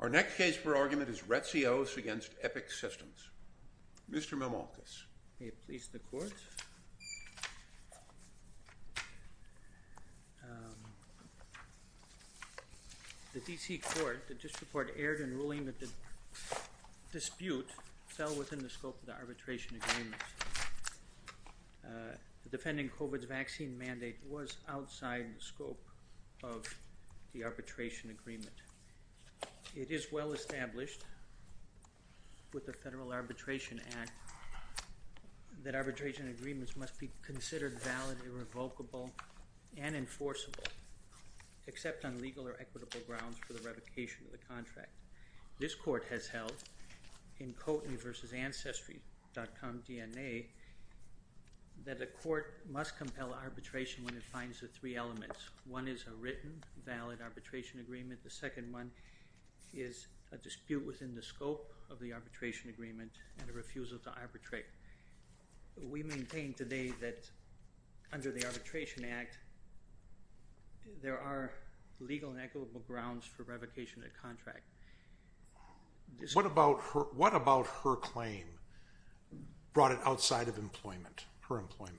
Our next case for argument is Retzios v. Epic Systems. Mr. Mimoulkis. May it please the court. The D.C. court, the district court, erred in ruling that the dispute fell within the scope of the arbitration agreement. The defending COVID vaccine mandate was outside the scope of the arbitration agreement. It is well established with the Federal Arbitration Act that arbitration agreements must be considered valid, irrevocable, and enforceable, except on legal or equitable grounds for the revocation of the contract. This court has held in Koteny v. Ancestry.com DNA that the court must compel arbitration when it finds the three elements. One is a written valid arbitration agreement. The second one is a dispute within the scope of the arbitration agreement and a refusal to arbitrate. We maintain today that under the arbitration act, there are legal and equitable grounds for revocation of the contract. What about her, what about her claim brought it outside of employment, her employment?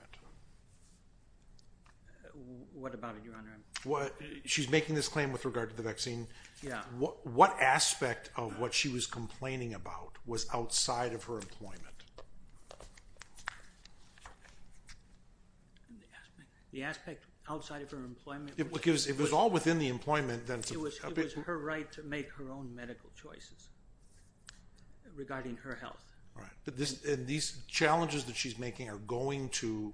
What about it, your honor? What she's making this claim with regard to the vaccine. What, what aspect of what she was complaining about was outside of her employment? The aspect outside of her employment. It was, it was all within the employment then. It was her right to make her own medical choices regarding her health. Right. But this, and these challenges that she's making are going to,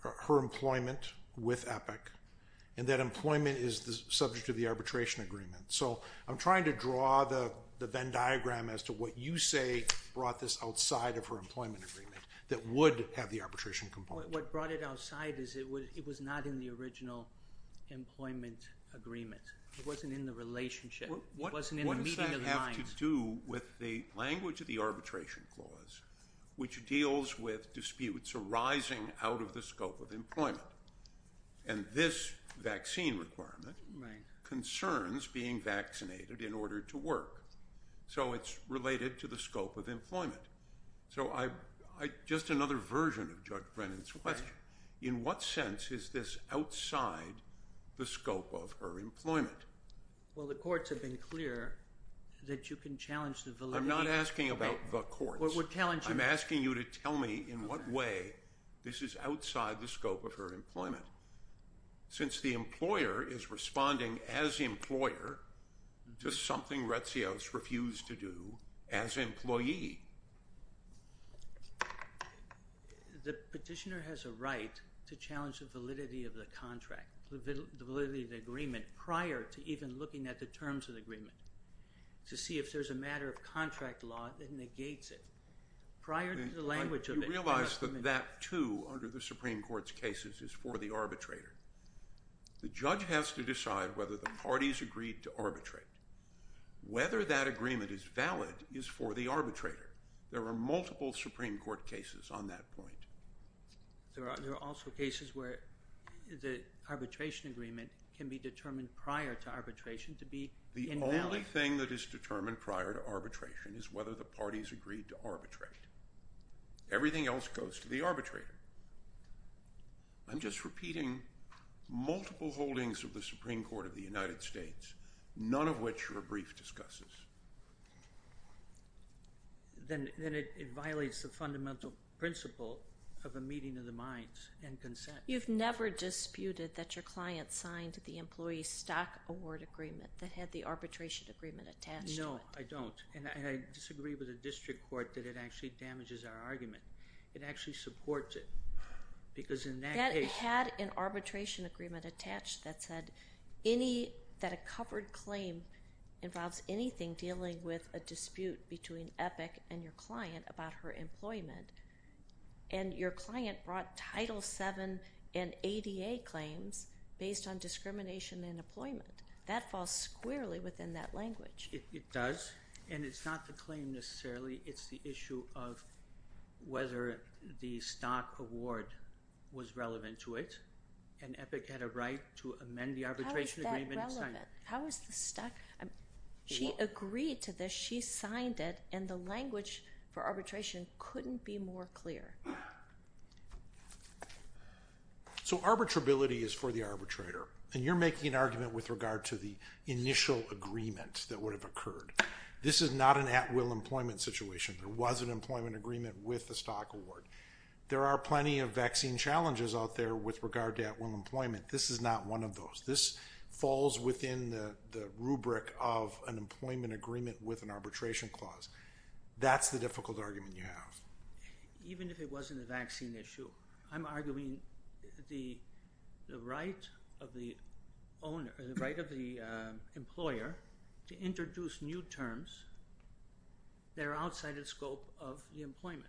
her employment with Epic and that employment is the subject of the arbitration agreement. So I'm trying to draw the Venn diagram as to what you say brought this outside of her employment agreement that would have the arbitration component. What brought it outside is it would, it was not in the original employment agreement. It wasn't in the relationship. What does that have to do with the language of the arbitration clause, which deals with disputes arising out of the scope of employment and this vaccine requirement concerns being vaccinated in order to work. So it's related to the scope of employment. So I, I just another version of judge Brennan's question. In what sense is this outside the scope of her employment? Well, the courts have been clear that you can challenge the validity. I'm not asking about the court. What we're telling you, I'm asking you to tell me in what way this is outside the scope of her employment since the employer is responding as the employer to something Retsios refused to do as employee. The petitioner has a right to challenge the validity of the contract, the validity of the agreement prior to even looking at the terms of the agreement to see if there's a matter of contract law that negates it. Prior to the language of it. You realize that that too, under the Supreme Court's cases is for the arbitrator. The judge has to decide whether the parties agreed to arbitrate. Whether that agreement is valid is for the arbitrator. There are multiple Supreme Court cases on that point. There are, there are also cases where the arbitration agreement can be determined prior to arbitration to be the only thing that is determined prior to arbitration is whether the parties agreed to arbitrate. Everything else goes to the arbitrator. I'm just repeating multiple holdings of the Supreme Court of the United States, none of which were brief discusses. Then, then it violates the fundamental principle of a meeting of the minds and consent. You've never disputed that your client signed the employee stock award agreement that had the arbitration agreement attached. No, I don't. And I disagree with the district court that it actually damages our argument. It actually supports it because in that case, had an arbitration agreement attached that said any, that a covered claim involves anything dealing with a dispute between Epic and your client about her employment and your client brought title seven and ADA claims based on discrimination and employment that falls squarely within that language. It does. And it's not the claim necessarily. It's the issue of whether the stock award was relevant to it. And Epic had a right to amend the arbitration agreement. How is the stock? She agreed to this. She signed it and the language for arbitration couldn't be more clear. So arbitrability is for the arbitrator and you're making an argument with regard to the initial agreement that would have occurred. This is not an at will employment situation. There was an employment agreement with the stock award. There are plenty of vaccine challenges out there with regard to at will employment. This is not one of those. This falls within the rubric of an employment agreement with an arbitration clause. That's the difficult argument you have. Even if it wasn't a vaccine issue, I'm arguing the right of the owner, the right of the employer to introduce new terms. They're outside of the scope of the employment.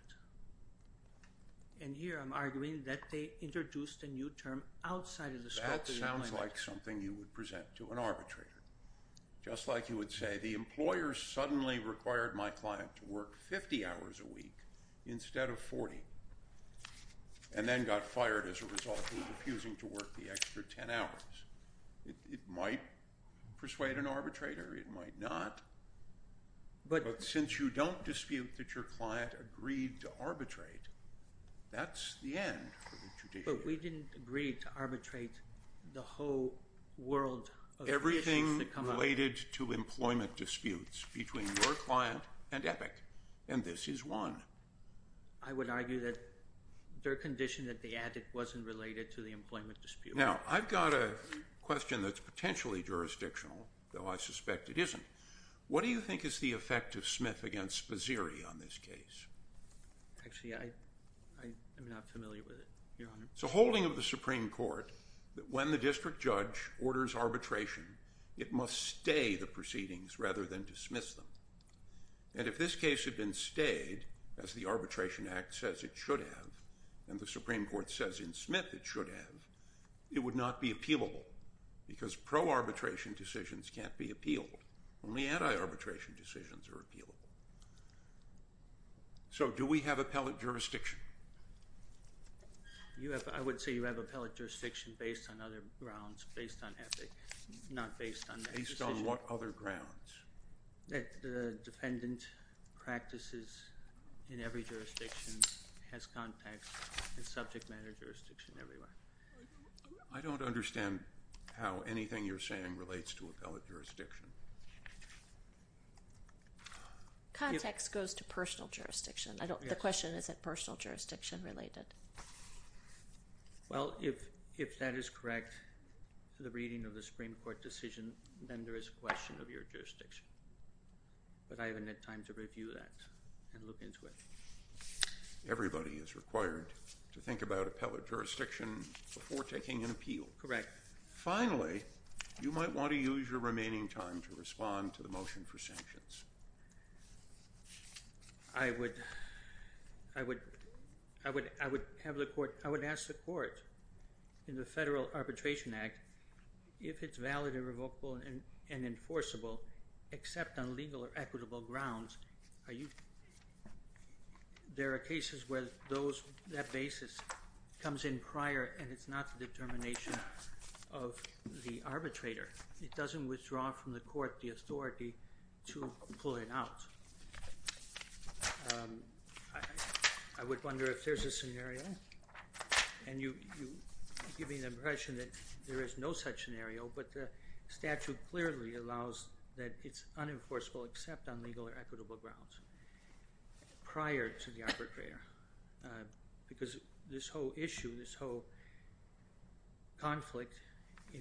And here I'm arguing that they introduced a new term outside of the scope. Sounds like something you would present to an arbitrator. Just like you would say, the employer suddenly required my client to work 50 hours a week instead of 40 and then got fired as a result of refusing to work the extra 10 hours. It might persuade an arbitrator. It might not. But since you don't dispute that your client agreed to arbitrate, that's the end. But we didn't agree to arbitrate the whole world. Everything related to employment disputes between your client and Epic. And this is one. I would argue that their condition that they added wasn't related to the employment dispute. Now I've got a question that's potentially jurisdictional though. I suspect it isn't. What do you think is the effect of Smith against Paziri on this case? Actually, I, I am not familiar with it. So holding of the Supreme court that when the district judge orders arbitration, it must stay the proceedings rather than dismiss them. And if this case had been stayed as the arbitration act says it should have, and the Supreme court says in Smith, it should have, it would not be appealable because pro arbitration decisions can't be appealed. Only anti-arbitration decisions are appealable. So do we have a pellet jurisdiction? You have, I would say you have a pellet jurisdiction based on other grounds, based on Epic, not based on what other grounds? That the defendant practices in every jurisdiction has context and subject matter jurisdiction everywhere. I don't understand how anything you're saying relates to a pellet jurisdiction. Context goes to personal jurisdiction. I don't, the question is that personal jurisdiction related. Well, if, if that is correct, the reading of the Supreme court decision, then there is a question of your jurisdiction, but I haven't had time to review that and look into it. Everybody is required to think about a pellet jurisdiction before taking an appeal. Correct. Finally, you might want to use your remaining time to respond to the motion for sanctions. I would, I would, I would, I would have the court, I would ask the court in the federal arbitration act, if it's valid and revocable and enforceable except on legal or equitable grounds, are you, there are cases where those that basis comes in prior and it's not the determination of the arbitrator. It doesn't withdraw from the court, the authority to pull it out. I would wonder if there's a scenario and you give me the impression that there is no such scenario, but the statute clearly allows that it's unenforceable except on legal or equitable grounds prior to the arbitrator. Because this whole issue, this whole conflict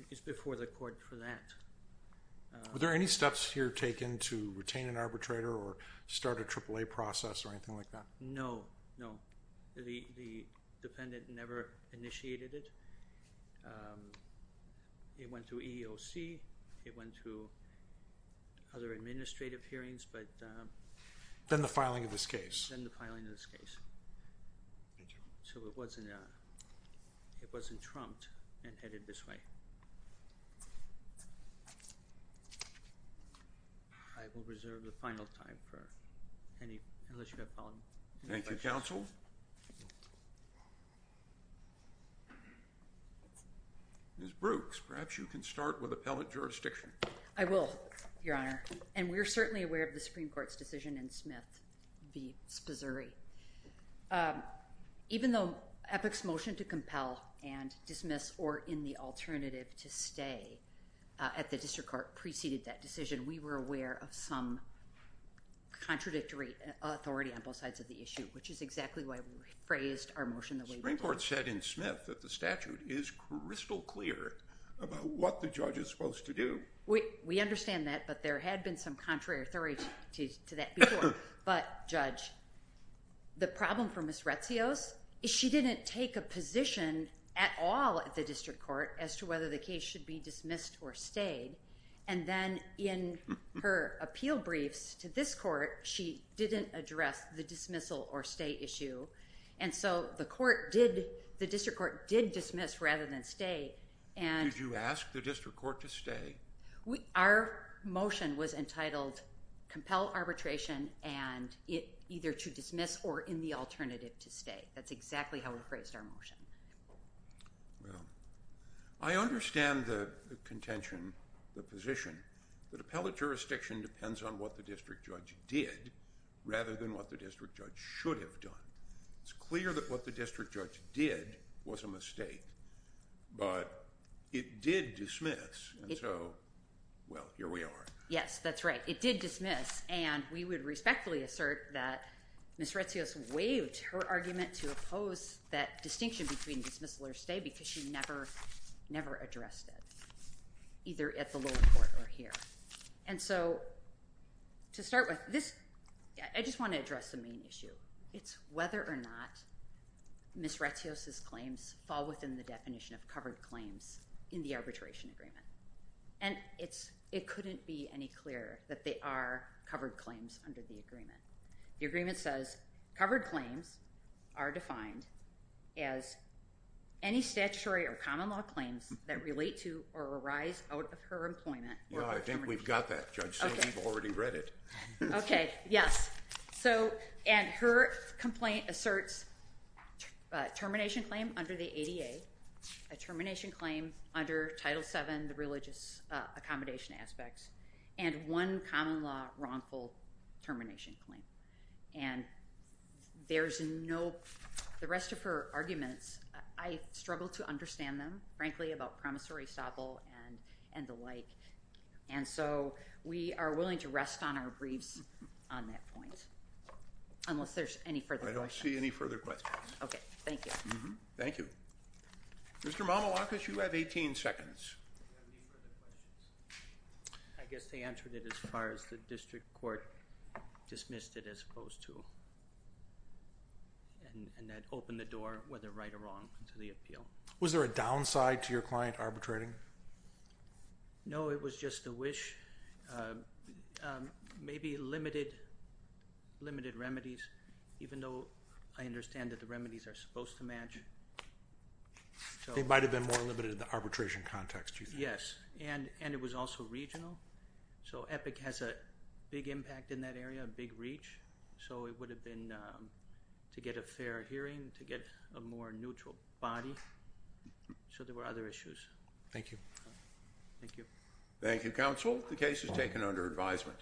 is before the court for that. Were there any steps here taken to retain an arbitrator or start a triple a process or anything like that? No, no. The, the dependent never initiated it. Um, it went to EOC, it went to other administrative hearings, but, um, then the filing of this case and the filing of this case. So it wasn't, uh, it wasn't trumped and headed this way. I will reserve the final time for any, unless you have a problem. Thank you. Council. Ms. Brooks, perhaps you can start with appellate jurisdiction. I will, your honor. And we're certainly aware of the Supreme Court's decision in Smith v. Sposuri. Um, even though Epic's motion to compel and dismiss or in the alternative to stay at the district court preceded that decision, we were aware of some contradictory authority on both sides of the issue, which is exactly why we phrased our motion. The Supreme Court said in Smith that the statute is crystal clear about what the judge is supposed to do. We understand that, but there had been some contrary authority to that before. But judge, the problem for Ms. Retzios, she didn't take a position at all at the district court as to whether the case should be dismissed or stayed. And then in her appeal briefs to this court, she didn't address the dismissal or stay issue. And so the court did, the district court did dismiss rather than stay. And you asked the district court to stay. Our motion was entitled compel arbitration and it either to dismiss or in the alternative to stay. That's exactly how we phrased our motion. Well, I understand the contention, the position that appellate jurisdiction depends on what the district judge did rather than what the district judge should have done. It's clear that what the district judge did was a mistake, but it did dismiss. And so, well, here we are. Yes, that's right. It did dismiss. And we would respectfully assert that Ms. Retzios waived her argument to oppose that distinction between dismissal or stay because she never, never addressed it either at the lower court or here. And so to start with this, I just want to address the main issue. It's whether or not Ms. Retzios' claims fall within the definition of covered claims in the arbitration agreement. And it's, it couldn't be any clearer that they are covered claims under the agreement. The agreement says covered claims are defined as any statutory or common law claims that relate to or arise out of her employment. Well, I think we've got that. Judge said we've already read it. Okay. Yes. So, and her complaint asserts a termination claim under the ADA, a termination claim under title seven, the religious accommodation aspects and one common law, wrongful termination claim. And there's no, the rest of her arguments, I struggle to understand them, frankly, about promissory staple and, and the like. And so we are willing to rest on our briefs on that point. Unless there's any further questions. I don't see any further questions. Okay. Thank you. Thank you. Mr. Mamoulakis, you have 18 seconds. I guess they answered it as far as the district court dismissed it as opposed to and that opened the door, whether right or wrong to the appeal. Was there a downside to your client arbitrating? No, it was just a wish. Um, maybe limited, limited remedies, even though I understand that the remedies are supposed to match. It might've been more limited in the arbitration context. Yes. And, and it was also regional. So Epic has a big impact in that area, a big reach. So it would have been, um, to get a fair hearing to get a more neutral body. So there were other issues. Thank you. Thank you. Thank you. Counsel, the case is taken under advisement.